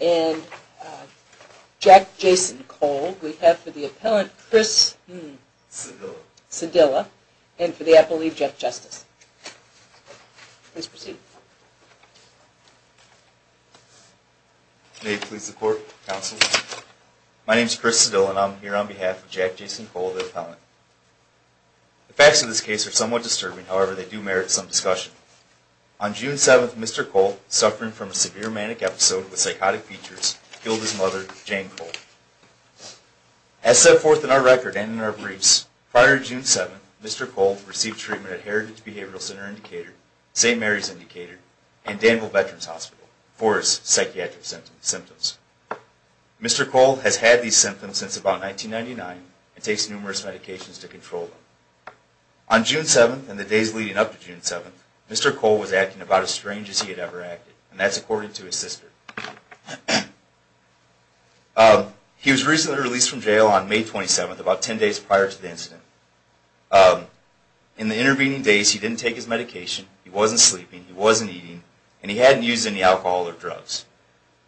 and Jack Jason Cole. We have for the appellant, Chris Cedilla, and for the appellate, Jeff Justice. Please proceed. May you please support, counsel? My name is Chris Cedilla and I'm here on behalf of Jack Jason Cole, the appellant. The facts of this case are somewhat disturbing, however, they do merit some discussion. On June 7th, Mr. Cole, suffering from a severe manic episode with psychotic features, killed his mother, Jane Cole. As set forth in our record and in our briefs, prior to June 7th, Mr. Cole received treatment at Heritage Behavioral Center Indicator, St. Mary's Indicator, and Danville Veterans Hospital for his psychiatric symptoms. Mr. Cole has had these symptoms since about 1999 and takes numerous medications to control them. On June 7th and the days leading up to June 7th, Mr. Cole was acting about as strange as he had ever acted, and that's according to his sister. He was recently released from jail on May 27th, about 10 days prior to the incident. In the intervening days, he didn't take his medication, he wasn't sleeping, he wasn't eating, and he hadn't used any alcohol or drugs.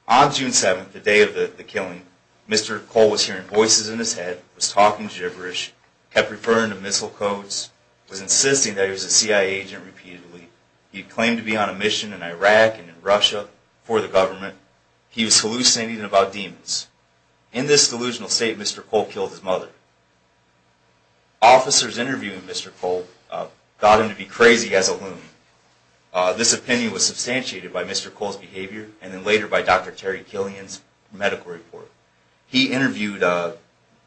On June 7th, the day of the killing, Mr. Cole was hearing voices in his head, was talking gibberish, kept referring to missile codes, was insisting that he was a CIA agent repeatedly, he had claimed to be on a mission in Iraq and in Russia for the government, he was hallucinating about demons. In this delusional state, Mr. Cole killed his mother. Officers interviewing Mr. Cole thought him to be crazy as a loon. This opinion was substantiated by Mr. Cole's behavior and then later by Dr. Terry Killian's medical report. He interviewed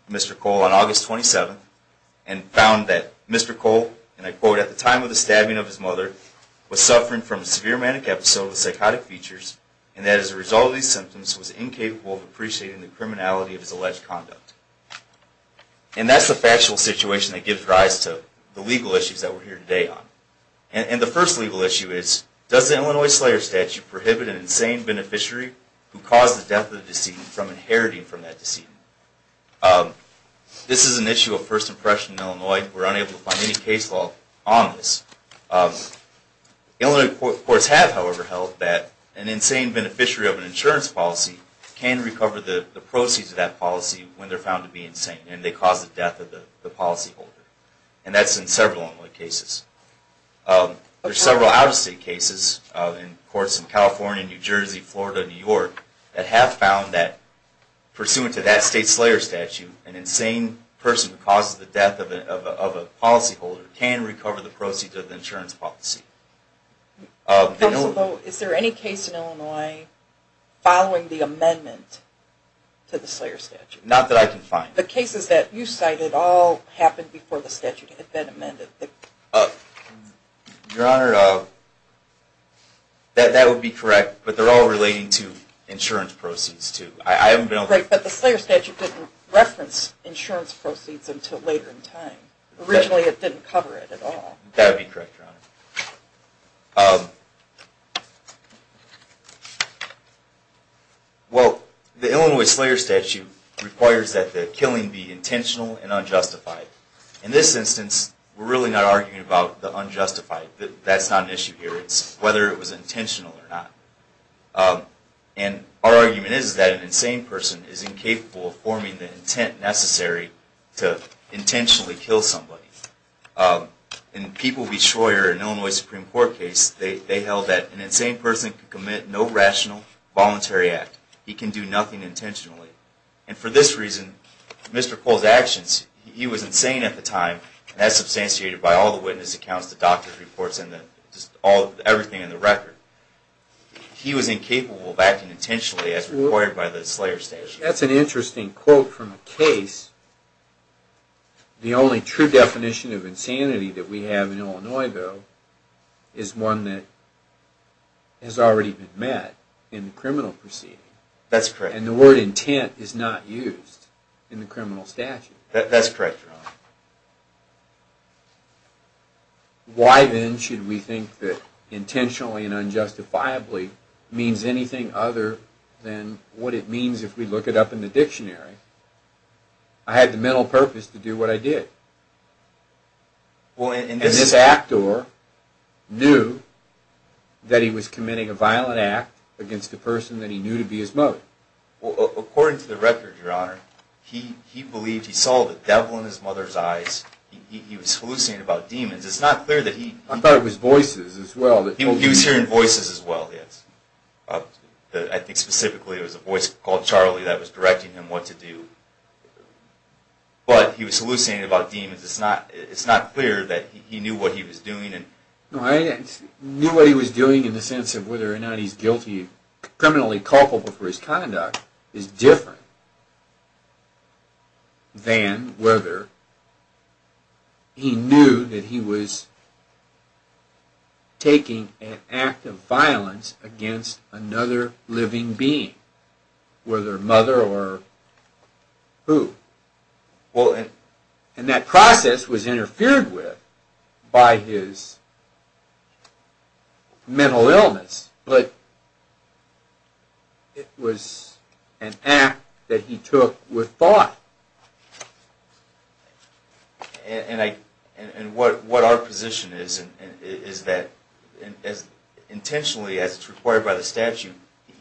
Mr. Cole on August 27th and found that Mr. Cole, and I quote, at the time of the stabbing of his mother, was suffering from a severe manic episode of psychotic features and that as a result of these symptoms was incapable of appreciating the criminality of his alleged conduct. And that's the factual situation that gives rise to the legal issues that we're here today on. And the first legal issue is, does the Illinois Slayer Statute prohibit an insane beneficiary who caused the death of the decedent from inheriting from that decedent? This is an issue of first impression in Illinois. We're unable to find any case law on this. Illinois courts have, however, held that an insane beneficiary of an insurance policy can recover the proceeds of that policy when they're found to be insane and they cause the death of the policyholder. And that's in several Illinois cases. There's several out-of-state cases in courts in California, New Jersey, Florida, New York, that have found that pursuant to that state slayer statute, an insane person who causes the death of a policyholder can recover the proceeds of the insurance policy. Is there any case in Illinois following the amendment to the Slayer Statute? Not that I can find. The cases that you cited all happened before the statute had been amended? Your Honor, that would be correct, but they're all relating to insurance proceeds too. Great, but the Slayer Statute didn't reference insurance proceeds until later in time. Originally it didn't cover it at all. That would be correct, Your Honor. Well, the Illinois Slayer Statute requires that the killing be intentional and unjustified. In this instance, we're really not arguing about the unjustified. That's not an issue here. It's whether it was intentional or not. And our argument is that an insane person is incapable of forming the intent necessary to intentionally kill somebody. In the People Supreme Court case, they held that an insane person could commit no rational, voluntary act. He can do nothing intentionally. And for this reason, Mr. Cole's actions, he was insane at the time, and that's substantiated by all the witness accounts, the doctor's reports, and everything in the record. He was incapable of acting intentionally as required by the Slayer Statute. That's an interesting quote from a case. The only true definition of insanity that we have in Illinois, though, is one that has already been met in the criminal proceeding. That's correct. And the word intent is not used in the criminal statute. That's correct, Your Honor. Why then should we think that intentionally and unjustifiably means anything other than what it means if we look it up in the dictionary? I had the mental purpose to do what I did. And this actor knew that he was committing a violent act against a person that he knew to be his mother. Well, according to the record, Your Honor, he believed he saw the devil in his mother's eyes. He was hallucinating about demons. It's not clear that he... I thought it was voices as well. He was hearing voices as well, yes. I think specifically it was a voice called Charlie that was directing him what to do. But he was hallucinating about demons. It's not clear that he knew what he was doing. No, I knew what he was doing in the sense of whether or not he's guilty, criminally culpable for his conduct is different than whether he knew that he was taking an act of violence against another living being, whether mother or who. Well, and... And that process was interfered with by his mental illness, but it was an act that he took with thought. And what our position is, is that intentionally, as it's required by the statute,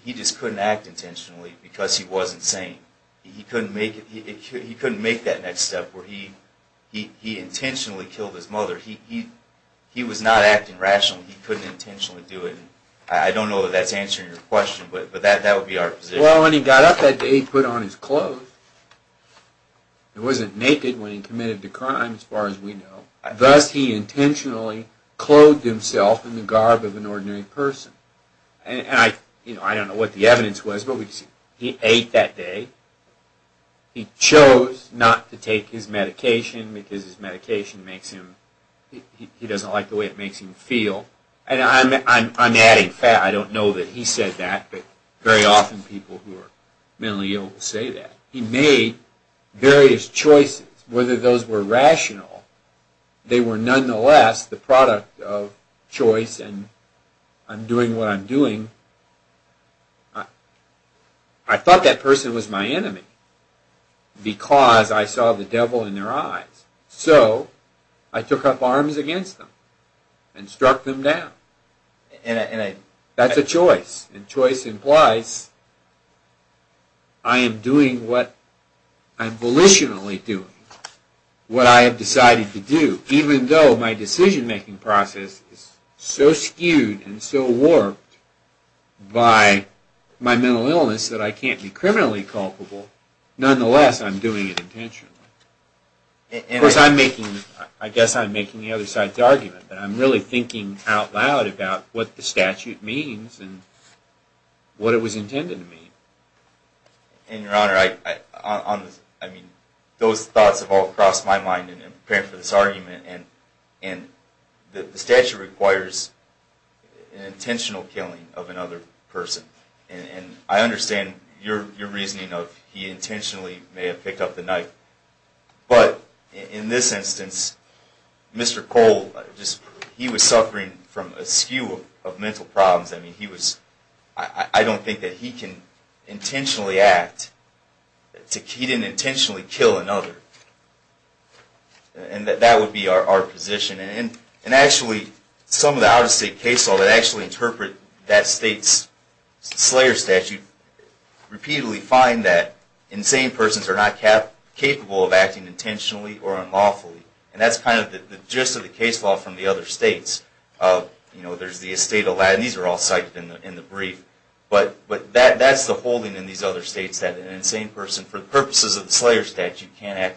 he just couldn't act intentionally because he wasn't sane. He couldn't make that next step where he intentionally killed his mother. He was not acting rationally. He couldn't intentionally do it. I don't know that that's answering your question, but that would be our position. Well, when he got up that day, he put on his clothes. He wasn't naked when he committed the crime, as far as we know. Thus, he intentionally clothed himself in the garb of an ordinary person. And I don't know what the evidence was, but he ate that day. He chose not to take his medication because his medication makes him... he doesn't like the way it makes him feel. And I'm adding fat. I don't know that he said that, but very often people who are mentally ill will say that. He made various choices. Whether those were rational, they were nonetheless the product of choice and I'm doing what I'm doing. I thought that person was my enemy because I saw the devil in their eyes. So, I took up arms against them and struck them down. That's a choice and choice implies I am doing what I'm volitionally doing. What I have decided to do, even though my decision making process is so skewed and so inherently culpable, nonetheless I'm doing it intentionally. Of course, I guess I'm making the other side's argument, but I'm really thinking out loud about what the statute means and what it was intended to mean. And Your Honor, those thoughts have all crossed my mind in preparing for this argument and the statute requires an intentional killing of another person. And I understand your reasoning of he intentionally may have picked up the knife, but in this instance, Mr. Cole, he was suffering from a skew of mental problems. I mean, he was... I don't think that he can And actually, some of the out-of-state case law that actually interpret that state's Slayer statute repeatedly find that insane persons are not capable of acting intentionally or unlawfully. And that's kind of the gist of the case law from the other states. You know, there's the estate of Latin, these are all cited in the brief, but that's the holding in these other states that an insane person, for the purposes of the Slayer statute, can't act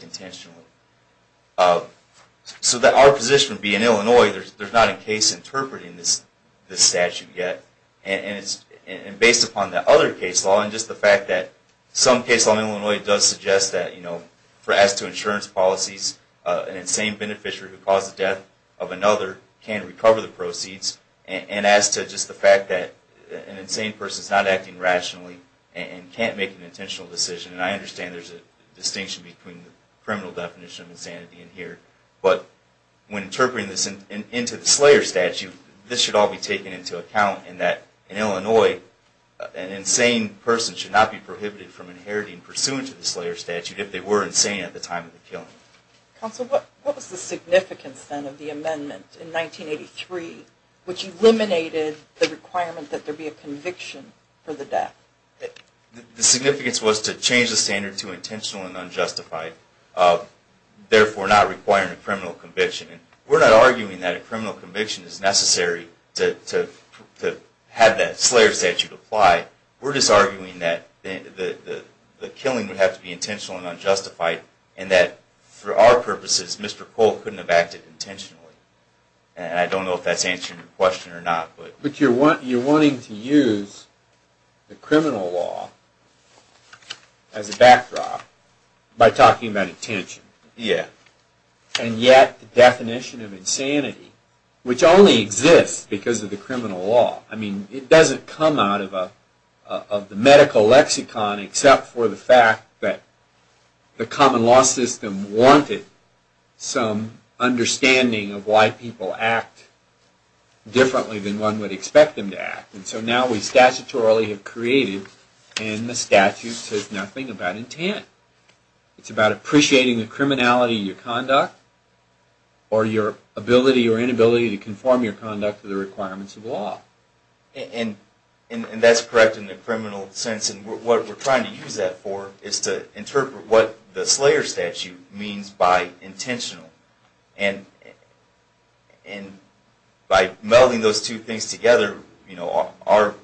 case interpreting this statute yet. And based upon the other case law and just the fact that some case law in Illinois does suggest that, you know, as to insurance policies, an insane beneficiary who caused the death of another can recover the proceeds. And as to just the fact that an insane person's not acting rationally and can't make an intentional decision, and I understand there's a distinction between the criminal definition of insanity in here, but when interpreting this into the Slayer statute, this should all be taken into account in that in Illinois, an insane person should not be prohibited from inheriting pursuant to the Slayer statute if they were insane at the time of the killing. Counsel, what was the significance then of the amendment in 1983, which eliminated the requirement that there be a conviction for the death? The significance was to change the standard to intentional and unjustified, therefore not requiring a criminal conviction. We're not arguing that a criminal conviction is necessary to have that Slayer statute apply. We're just arguing that the killing would have to be intentional and unjustified, and that for our purposes, Mr. Cole couldn't have acted intentionally. And I don't know if that's answering your question or not. But you're wanting to use the criminal law as a backdrop by talking about intention. Yeah. And yet the definition of insanity, which only exists because of the criminal law. I mean, it doesn't come out of the medical lexicon except for the fact that the common law system wanted some understanding of why people act differently than one would expect them to act. And so now we statutorily have created, and the statute says nothing about intent. It's about appreciating the criminality of your conduct or your ability or inability to conform your conduct to the requirements of law. And that's correct in the criminal sense. And what we're trying to use that for is to interpret what the Slayer statute means by intentional. And by melding those two things together, our but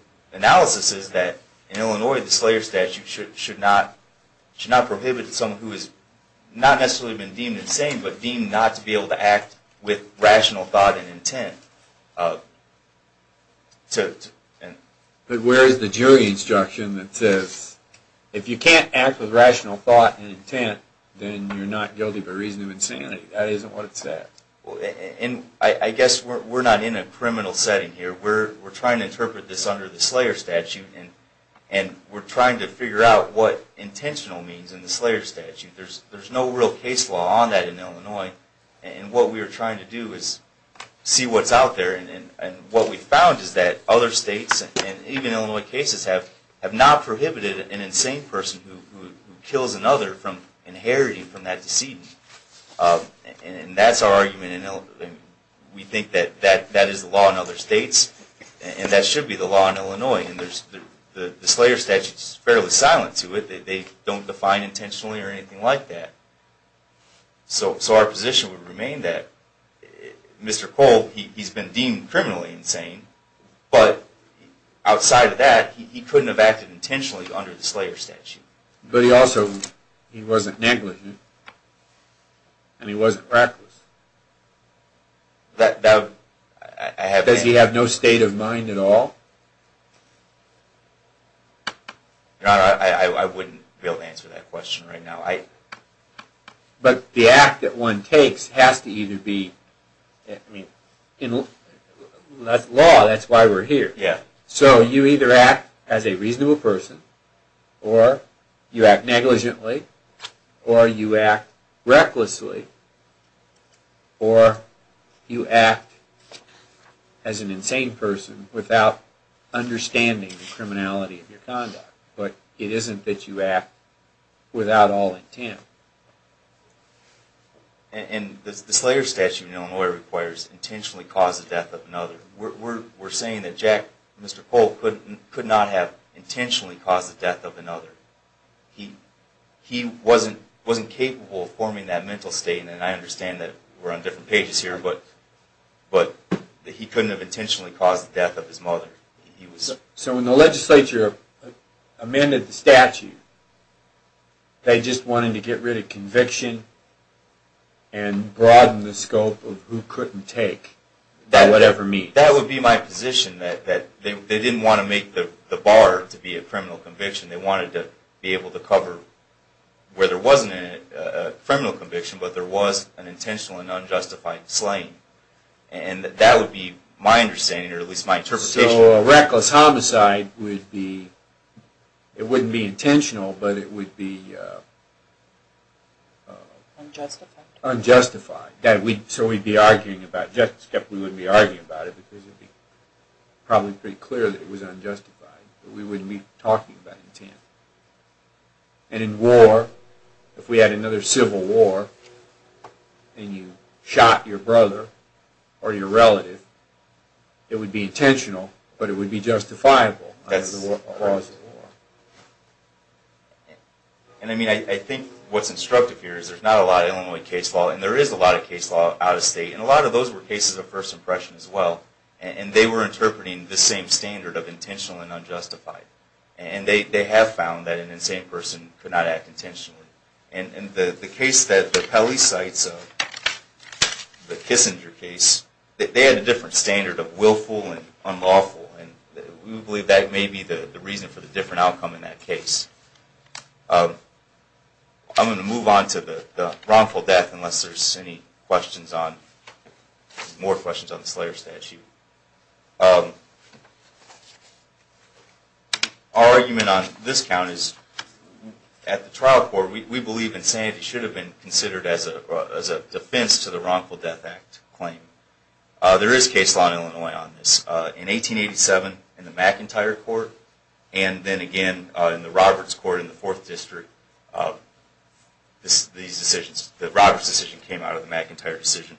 deemed not to be able to act with rational thought and intent. But where is the jury instruction that says, if you can't act with rational thought and intent, then you're not guilty by reason of insanity. That isn't what it says. And I guess we're not in a criminal setting here. We're trying to interpret this under the Slayer statute, and we're trying to figure out what intentional means in the Slayer statute. There's no real case law on that in Illinois. And what we are trying to do is see what's out there. And what we've found is that other states, and even Illinois cases, have not prohibited an insane person who kills another from inheriting from that decedent. And that's our argument. We think that that is the law in other states, and that should be the law in Illinois. And the Slayer statute is fairly silent to it. They don't define intentionally or anything like that. So our position would remain that Mr. Cole, he's been deemed criminally insane, but outside of that, he couldn't have acted intentionally under the Slayer statute. But he also, he wasn't negligent. And he wasn't reckless. Does he have no state of mind at all? I wouldn't be able to answer that question right now. But the act that one takes has to either be, in law, that's why we're here. So you either act as a reasonable person, or you act negligently, or you act recklessly. Or you act as an insane person without understanding the criminality of your conduct. But it isn't that you act without all intent. And the Slayer statute in Illinois requires intentionally cause the death of another. We're saying that Jack, Mr. Cole, could not have intentionally caused the death of another. He wasn't capable of forming that mental state, and I understand that we're on different pages here, but he couldn't have intentionally caused the death of his mother. So when the legislature amended the statute, they just wanted to get rid of conviction and broaden the scope of who couldn't take, by whatever means. That would be my position, that they didn't want to make the bar to be a criminal conviction. They wanted to be able to cover where there wasn't a criminal conviction, but there was an intentional and unjustified slaying. And that would be my understanding, or at least my interpretation. So a reckless homicide would be, it wouldn't be intentional, but it would be unjustified. So we'd be arguing about, we wouldn't be arguing about it, because it would be probably pretty clear that it was unjustified. We wouldn't be talking about intent. And in war, if we had another civil war, and you shot your brother or your relative, it would be intentional, but it would be justifiable. And I mean, I think what's instructive here is there's not a lot of Illinois case law, and there is a lot of case law out of state, and a lot of those were cases of first impression as well. And they were interpreting the same standard of intentional and unjustified. And they have found that an insane person could not act intentionally. And the case that the Pelley cites, the Kissinger case, they had a different standard of willful and unlawful, and we believe that may be the reason for the different outcome in that case. I'm going to move on to the wrongful death, unless there's any questions on, more questions on the Slayer Statute. Our argument on this count is, at the trial court, we believe insanity should have been considered as a defense to the Wrongful Death Act claim. There is case law in Illinois on this. In 1887, in the McIntyre Court, and then again in the Roberts Court in the Fourth District, these decisions, the Roberts decision came out of the McIntyre decision.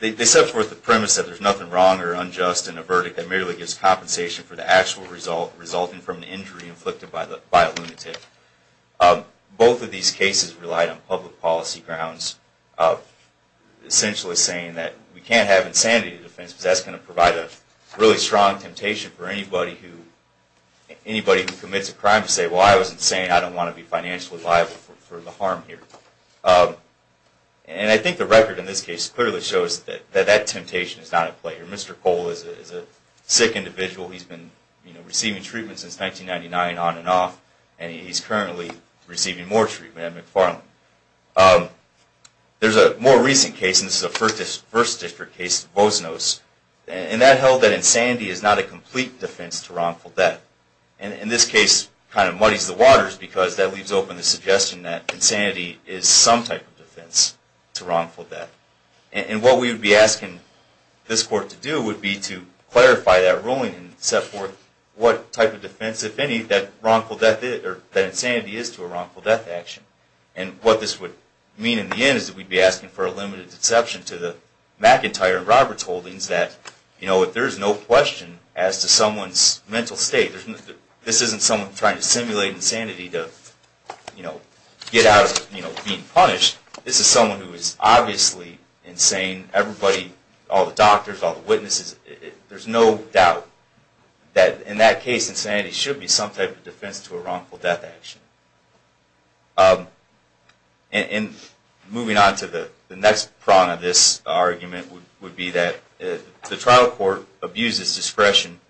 They set forth the premise that there's nothing wrong or unjust in a verdict that merely gives compensation for the actual result resulting from an injury inflicted by a lunatic. Both of these cases relied on public policy grounds, essentially saying that we can't have insanity as a defense, because that's going to provide a really strong temptation for anybody who, well I was insane, I don't want to be financially liable for the harm here. And I think the record in this case clearly shows that that temptation is not at play. Mr. Cole is a sick individual, he's been receiving treatment since 1999 on and off, and he's currently receiving more treatment at McFarland. There's a more recent case, and this is a First District case, Vosnos, and that held that insanity is not a complete defense to wrongful death. And this case kind of muddies the waters, because that leaves open the suggestion that insanity is some type of defense to wrongful death. And what we would be asking this Court to do would be to clarify that ruling and set forth what type of defense, if any, that wrongful death is, or that insanity is to a wrongful death action. And what this would mean in the end is that we'd be asking for a limited exception to the McIntyre and Roberts holdings that, you know, there is no question as to someone's mental state. This isn't someone trying to simulate insanity to, you know, get out of being punished. This is someone who is obviously insane. Everybody, all the doctors, all the witnesses, there's no doubt that in that case, insanity should be some type of defense to a wrongful death action. And moving on to the next prong of this argument would be that the trial court abused its discretion.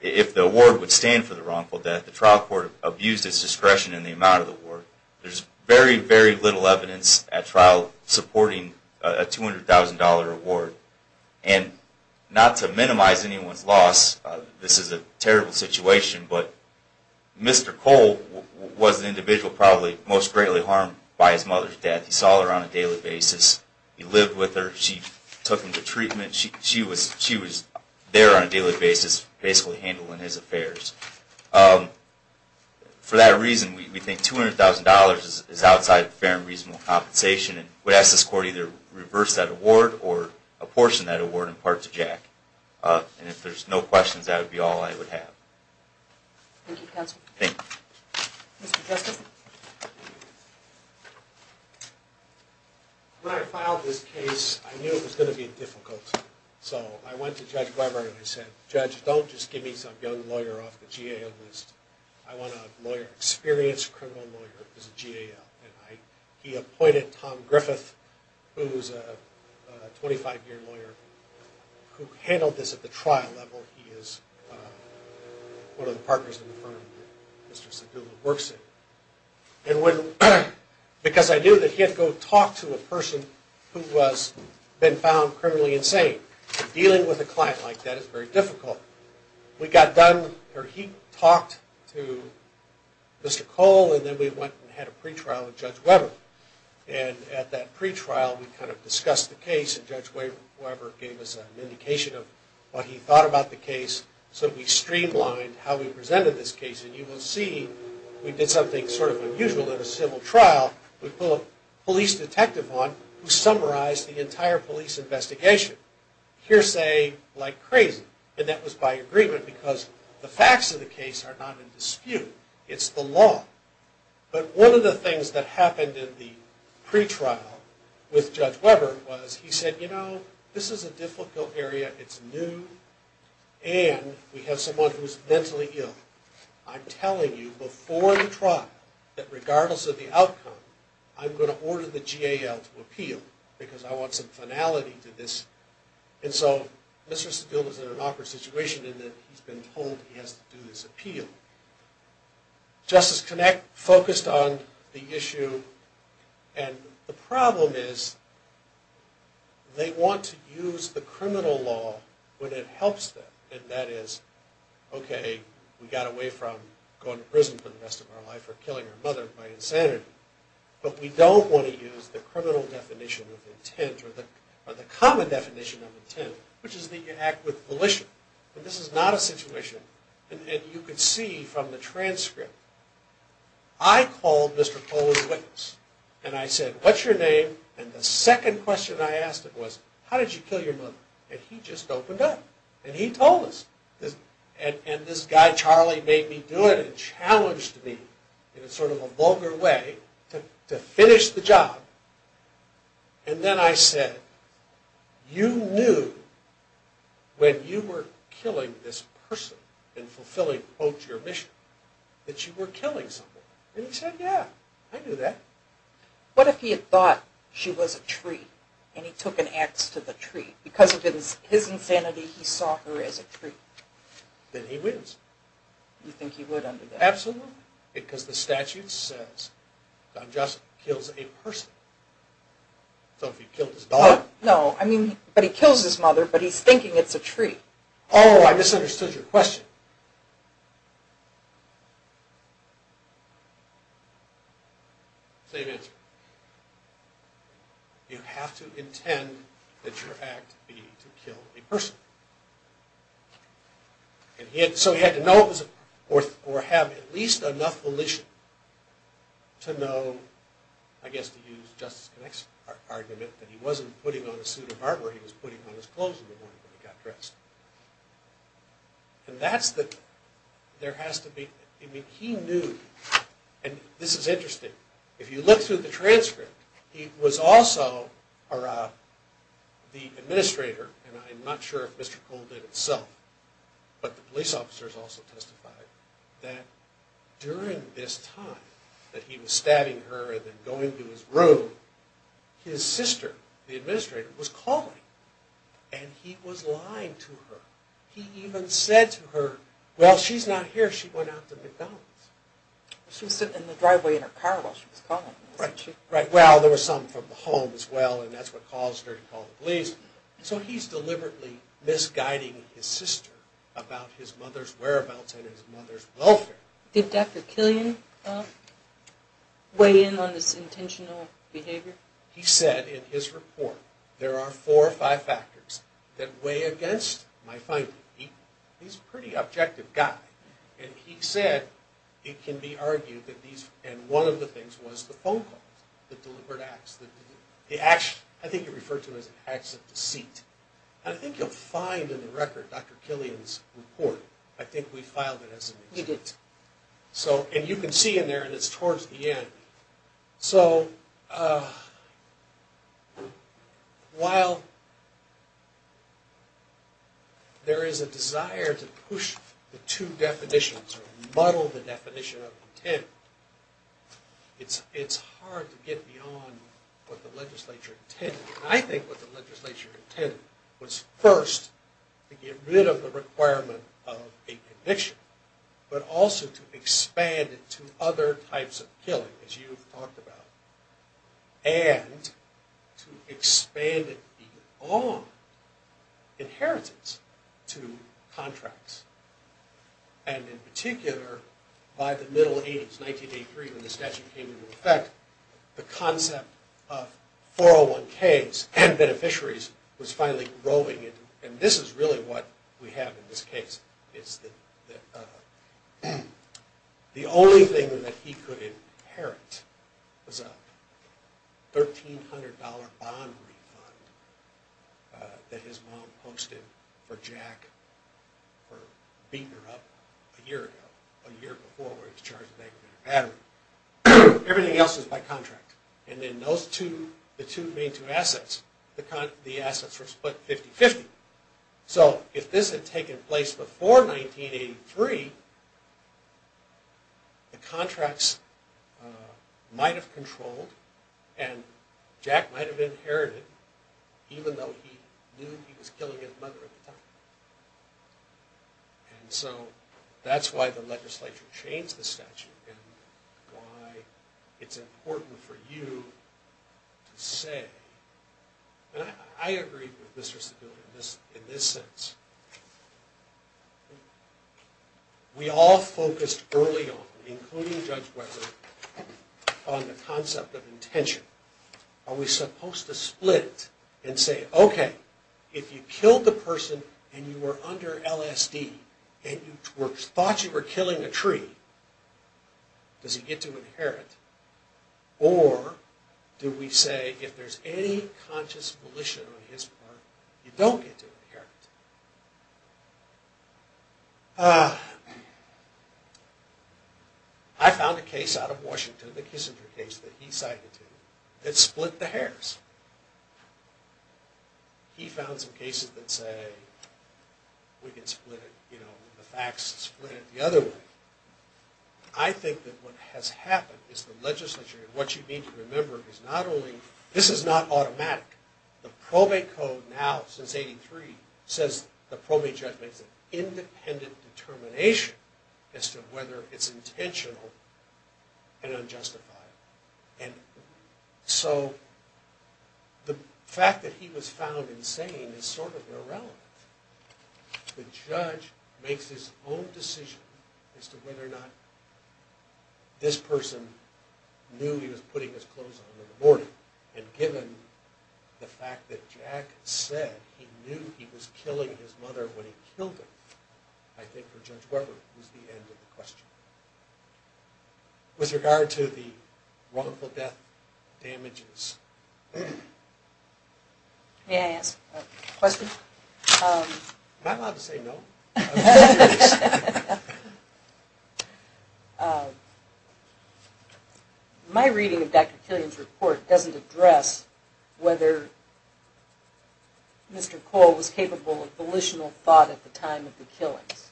If the award would stand for the wrongful death, the trial court abused its discretion in the amount of the award. There's very, very little evidence at trial supporting a $200,000 award. And not to minimize anyone's loss, this is a terrible situation, but Mr. Cole was an individual probably most greatly harmed by his mother's death. He saw her on a daily basis. He lived with her. She took him to treatment. She was there on a daily basis basically handling his affairs. For that reason, we think $200,000 is outside fair and reasonable compensation and would ask this court either reverse that award or apportion that award in part to Jack. And if there's no questions, that would be all I would have. Thank you, counsel. Thank you. Mr. Justice? When I filed this case, I knew it was going to be difficult. So I went to Judge Weber and I said, Judge, don't just give me some young lawyer off the GAL list. I want a lawyer, experienced criminal lawyer who's a GAL. And he appointed Tom Griffith, who's a 25-year lawyer who handled this at the trial level. He is one of the partners in the firm that Mr. Sedula works in. Because I knew that he had to go talk to a person who has been found criminally insane. Dealing with a client like that is very difficult. We got done, or he talked to Mr. Cole, and then we went and had a pretrial with Judge Weber. And at that pretrial, we kind of discussed the case, and Judge Weber gave us an indication of what he thought about the case so that we streamlined how we presented this case. And you will see we did something sort of unusual at a civil trial. We put a police detective on who summarized the entire police investigation. Hearsay like crazy. And that was by agreement because the facts of the case are not in dispute. It's the law. But one of the things that happened in the pretrial with Judge Weber was he said, You know, this is a difficult area. It's new. And we have someone who's mentally ill. I'm telling you before the trial that regardless of the outcome, I'm going to order the GAL to appeal because I want some finality to this. And so Mr. Steele was in an awkward situation in that he's been told he has to do this appeal. Justice Connect focused on the issue, and the problem is they want to use the criminal law when it helps them. And that is, okay, we got away from going to prison for the rest of our life or killing our mother by insanity, but we don't want to use the criminal definition of intent or the common definition of intent, which is that you act with volition. And this is not a situation, and you can see from the transcript, I called Mr. Kohler's witness, and I said, What's your name? And the second question I asked him was, How did you kill your mother? And he just opened up, and he told us. And this guy, Charlie, made me do it and challenged me in sort of a vulgar way to finish the job. And then I said, You knew when you were killing this person and fulfilling, quote, your mission, that you were killing someone. And he said, Yeah, I knew that. What if he had thought she was a tree and he took an ax to the tree? Because of his insanity, he saw her as a tree. Then he wins. You think he would under that? Absolutely, because the statute says, Don Johnson kills a person. So if he killed his daughter? No, I mean, but he kills his mother, but he's thinking it's a tree. Oh, I misunderstood your question. You have to intend that your act be to kill a person. So he had to know or have at least enough volition to know, I guess to use Justice Connick's argument, that he wasn't putting on a suit of armor, he was putting on his clothes in the morning when he got dressed. And that's the, there has to be, I mean, he knew, and this is interesting. If you look through the transcript, he was also, or the administrator, and I'm not sure if Mr. Cole did it himself, but the police officers also testified, that during this time that he was stabbing her and then going to his room, his sister, the administrator, was calling. And he was lying to her. He even said to her, Well, she's not here. She went out to McDonald's. She was sitting in the driveway in her car while she was calling. Right, well, there was something from the home as well, and that's what caused her to call the police. So he's deliberately misguiding his sister about his mother's whereabouts and his mother's welfare. Did Dr. Killian weigh in on this intentional behavior? He said in his report, there are four or five factors that weigh against my finding. He's a pretty objective guy. And he said it can be argued that these, and one of the things was the phone calls, the deliberate acts, the acts, I think he referred to as acts of deceit. And I think you'll find in the record Dr. Killian's report. I think we filed it as a mistake. We did. So, and you can see in there, and it's towards the end. So, while there is a desire to push the two definitions or muddle the definition of intent, it's hard to get beyond what the legislature intended. I think what the legislature intended was first to get rid of the requirement of a conviction, but also to expand it to other types of killing, as you've talked about, and to expand it beyond inheritance to contracts. And in particular, by the middle 80s, 1983, when the statute came into effect, the concept of 401ks and beneficiaries was finally growing. And this is really what we have in this case, is that the only thing that he could inherit was a $1,300 bond refund that his mom posted for Jack, or beaten her up a year ago, a year before where he was charged with aggravated battery. Everything else was by contract. And then those two, the two main two assets, the assets were split 50-50. So, if this had taken place before 1983, the contracts might have controlled, and Jack might have inherited, even though he knew he was killing his mother at the time. And so, that's why the legislature changed the statute, and why it's important for you to say, and I agree with Mr. Sebille in this sense, we all focused early on, including Judge Weber, on the concept of intention. Are we supposed to split and say, okay, if you killed the person and you were under LSD, and you thought you were killing a tree, does he get to inherit? Or, do we say, if there's any conscious volition on his part, you don't get to inherit? I found a case out of Washington, the Kissinger case that he cited, that split the hairs. He found some cases that say, we can split it, you know, the facts, split it the other way. I think that what has happened is the legislature, and what you need to remember is not only, this is not automatic. It says the probate judge makes an independent determination as to whether it's intentional and unjustified. And so, the fact that he was found insane is sort of irrelevant. The judge makes his own decision as to whether or not this person knew he was putting his clothes on in the morning. And given the fact that Jack said he knew he was killing his mother when he killed her, I think for Judge Weber, it was the end of the question. With regard to the wrongful death damages. May I ask a question? Am I allowed to say no? My reading of Dr. Killian's report doesn't address whether Mr. Cole was capable of volitional thought at the time of the killings.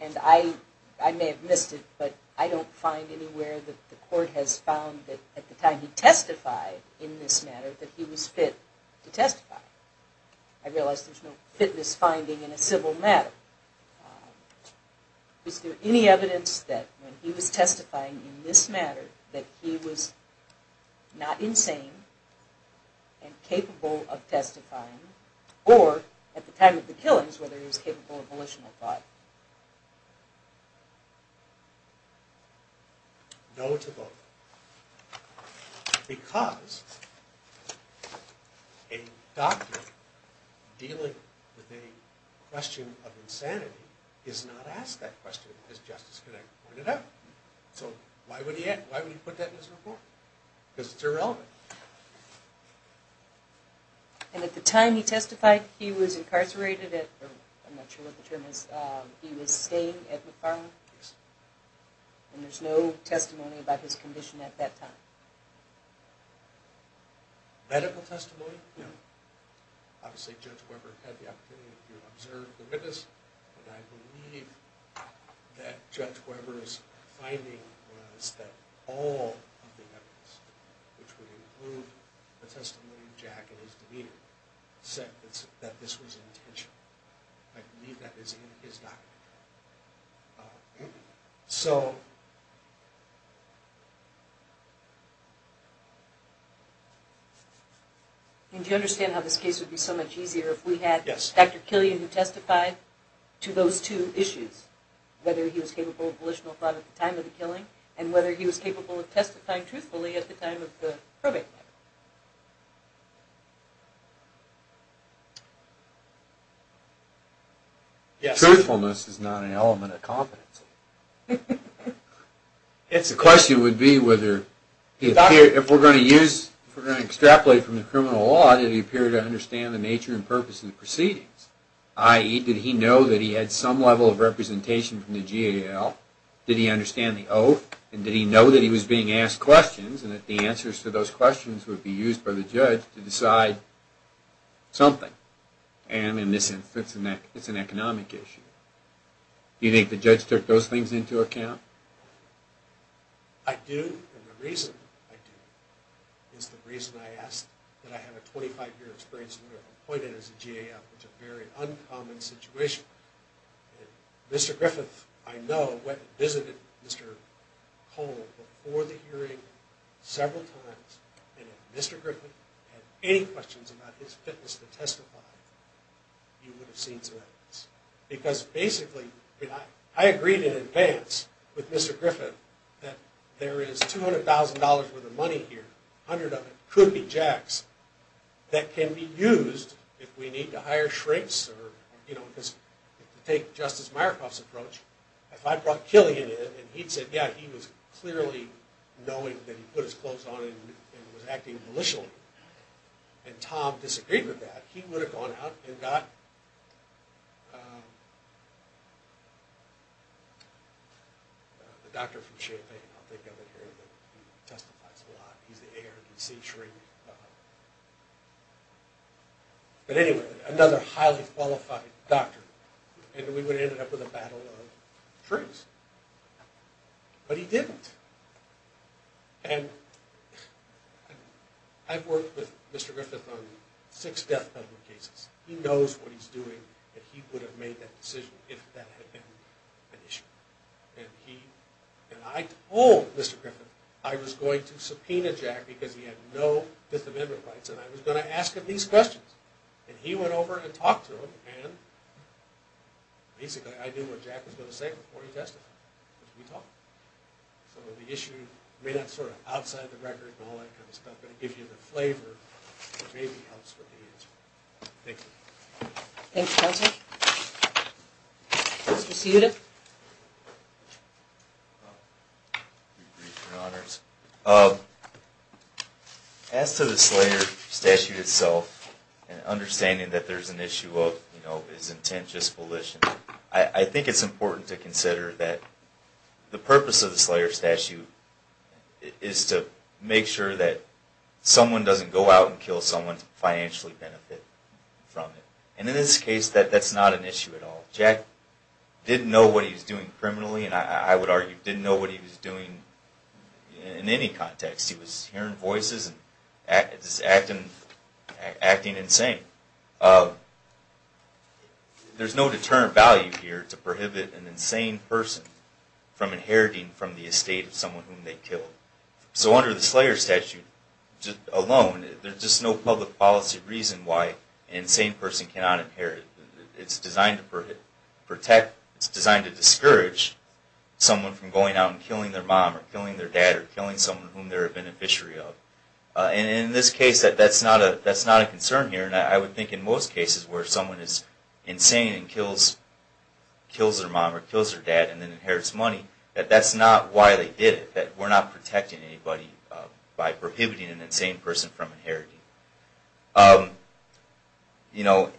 And I may have missed it, but I don't find anywhere that the court has found that at the time he testified in this matter, that he was fit to testify. I realize there's no fitness finding in a civil matter. Is there any evidence that when he was testifying in this matter that he was not insane and capable of testifying, or at the time of the killings, whether he was capable of volitional thought? No to both. Because a doctor dealing with a question of insanity is not asked that question, as Justice Connick pointed out. So why would he put that in his report? Because it's irrelevant. And at the time he testified, he was incarcerated at, I'm not sure what the term is, he was staying at McFarland? Yes. And there's no testimony about his condition at that time? Medical testimony? No. Obviously Judge Weber had the opportunity to observe the witness, but I believe that Judge Weber's finding was that all of the evidence, which would include the testimony of Jack and his demeanor, said that this was intentional. I believe that is in his document. And do you understand how this case would be so much easier if we had Dr. Killian who testified to those two issues, whether he was capable of volitional thought at the time of the killing, and whether he was capable of testifying truthfully at the time of the probate matter? Yes. Truthfulness is not an element of competency. The question would be whether, if we're going to extrapolate from the criminal law, did he appear to understand the nature and purpose of the proceedings? I.e., did he know that he had some level of representation from the GAL? Did he understand the oath? And did he know that he was being asked questions, and that the answers to those questions would be used by the judge to decide something? And in this instance, it's an economic issue. Do you think the judge took those things into account? I do, and the reason I do is the reason I asked that I have a 25-year experience, and we were appointed as a GAL, which is a very uncommon situation. Mr. Griffith, I know, went and visited Mr. Cole before the hearing several times, and if Mr. Griffith had any questions about his fitness to testify, he would have seen some evidence. Because basically, I agreed in advance with Mr. Griffith that there is $200,000 worth of money here, a hundred of it, could be jacks, that can be used if we need to hire shrinks, because if you take Justice Myerkoff's approach, if I brought Killian in, and he'd said, yeah, he was clearly knowing that he put his clothes on and was acting maliciously, and Tom disagreed with that, he would have gone out and got the doctor from Champaign, I'll think of it here, he testifies a lot, he's the ARDC shrink. But anyway, another highly qualified doctor, and we would have ended up with a battle of the trees. But he didn't. And I've worked with Mr. Griffith on six death penalty cases. He knows what he's doing, and he would have made that decision if that had been an issue. And I told Mr. Griffith I was going to subpoena Jack because he had no Fifth Amendment rights, and I was going to ask him these questions. And he went over and talked to him, and basically I knew what Jack was going to say before he testified. We talked. So the issue may not be sort of outside the record and all that kind of stuff, but it gives you the flavor that maybe helps with the answer. Thanks. Thanks, counsel. Mr. Cuda. As to the Slayer statute itself, and understanding that there's an issue of, you know, is intent just volition, I think it's important to consider that the purpose of the Slayer statute is to make sure that someone doesn't go out and kill someone to financially benefit from it. And in this case, that's not an issue at all. Jack didn't know what he was doing criminally, and I would argue didn't know what he was doing in any context. He was hearing voices and just acting insane. There's no deterrent value here to prohibit an insane person from inheriting from the estate of someone whom they killed. So under the Slayer statute alone, there's just no public policy reason why an insane person cannot inherit. It's designed to protect, it's designed to discourage someone from going out and killing their mom or killing their dad or killing someone whom they're a beneficiary of. And in this case, that's not a concern here. And I would think in most cases where someone is insane and kills their mom or kills their dad and then inherits money, that that's not why they did it. That we're not protecting anybody by prohibiting an insane person from inheriting. You know,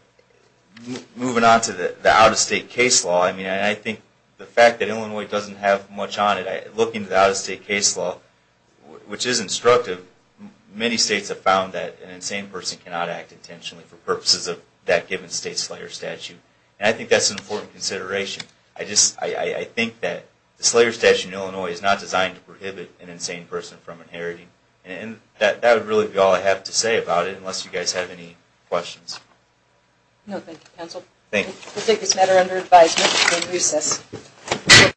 moving on to the out-of-state case law, I mean, I think the fact that Illinois doesn't have much on it, looking at the out-of-state case law, which is instructive, many states have found that an insane person cannot act intentionally for purposes of that given state Slayer statute. And I think that's an important consideration. I think that the Slayer statute in Illinois is not designed to prohibit an insane person from inheriting. And that would really be all I have to say about it, unless you guys have any questions. No, thank you, counsel. Thank you. We'll take this matter under advisement until recess.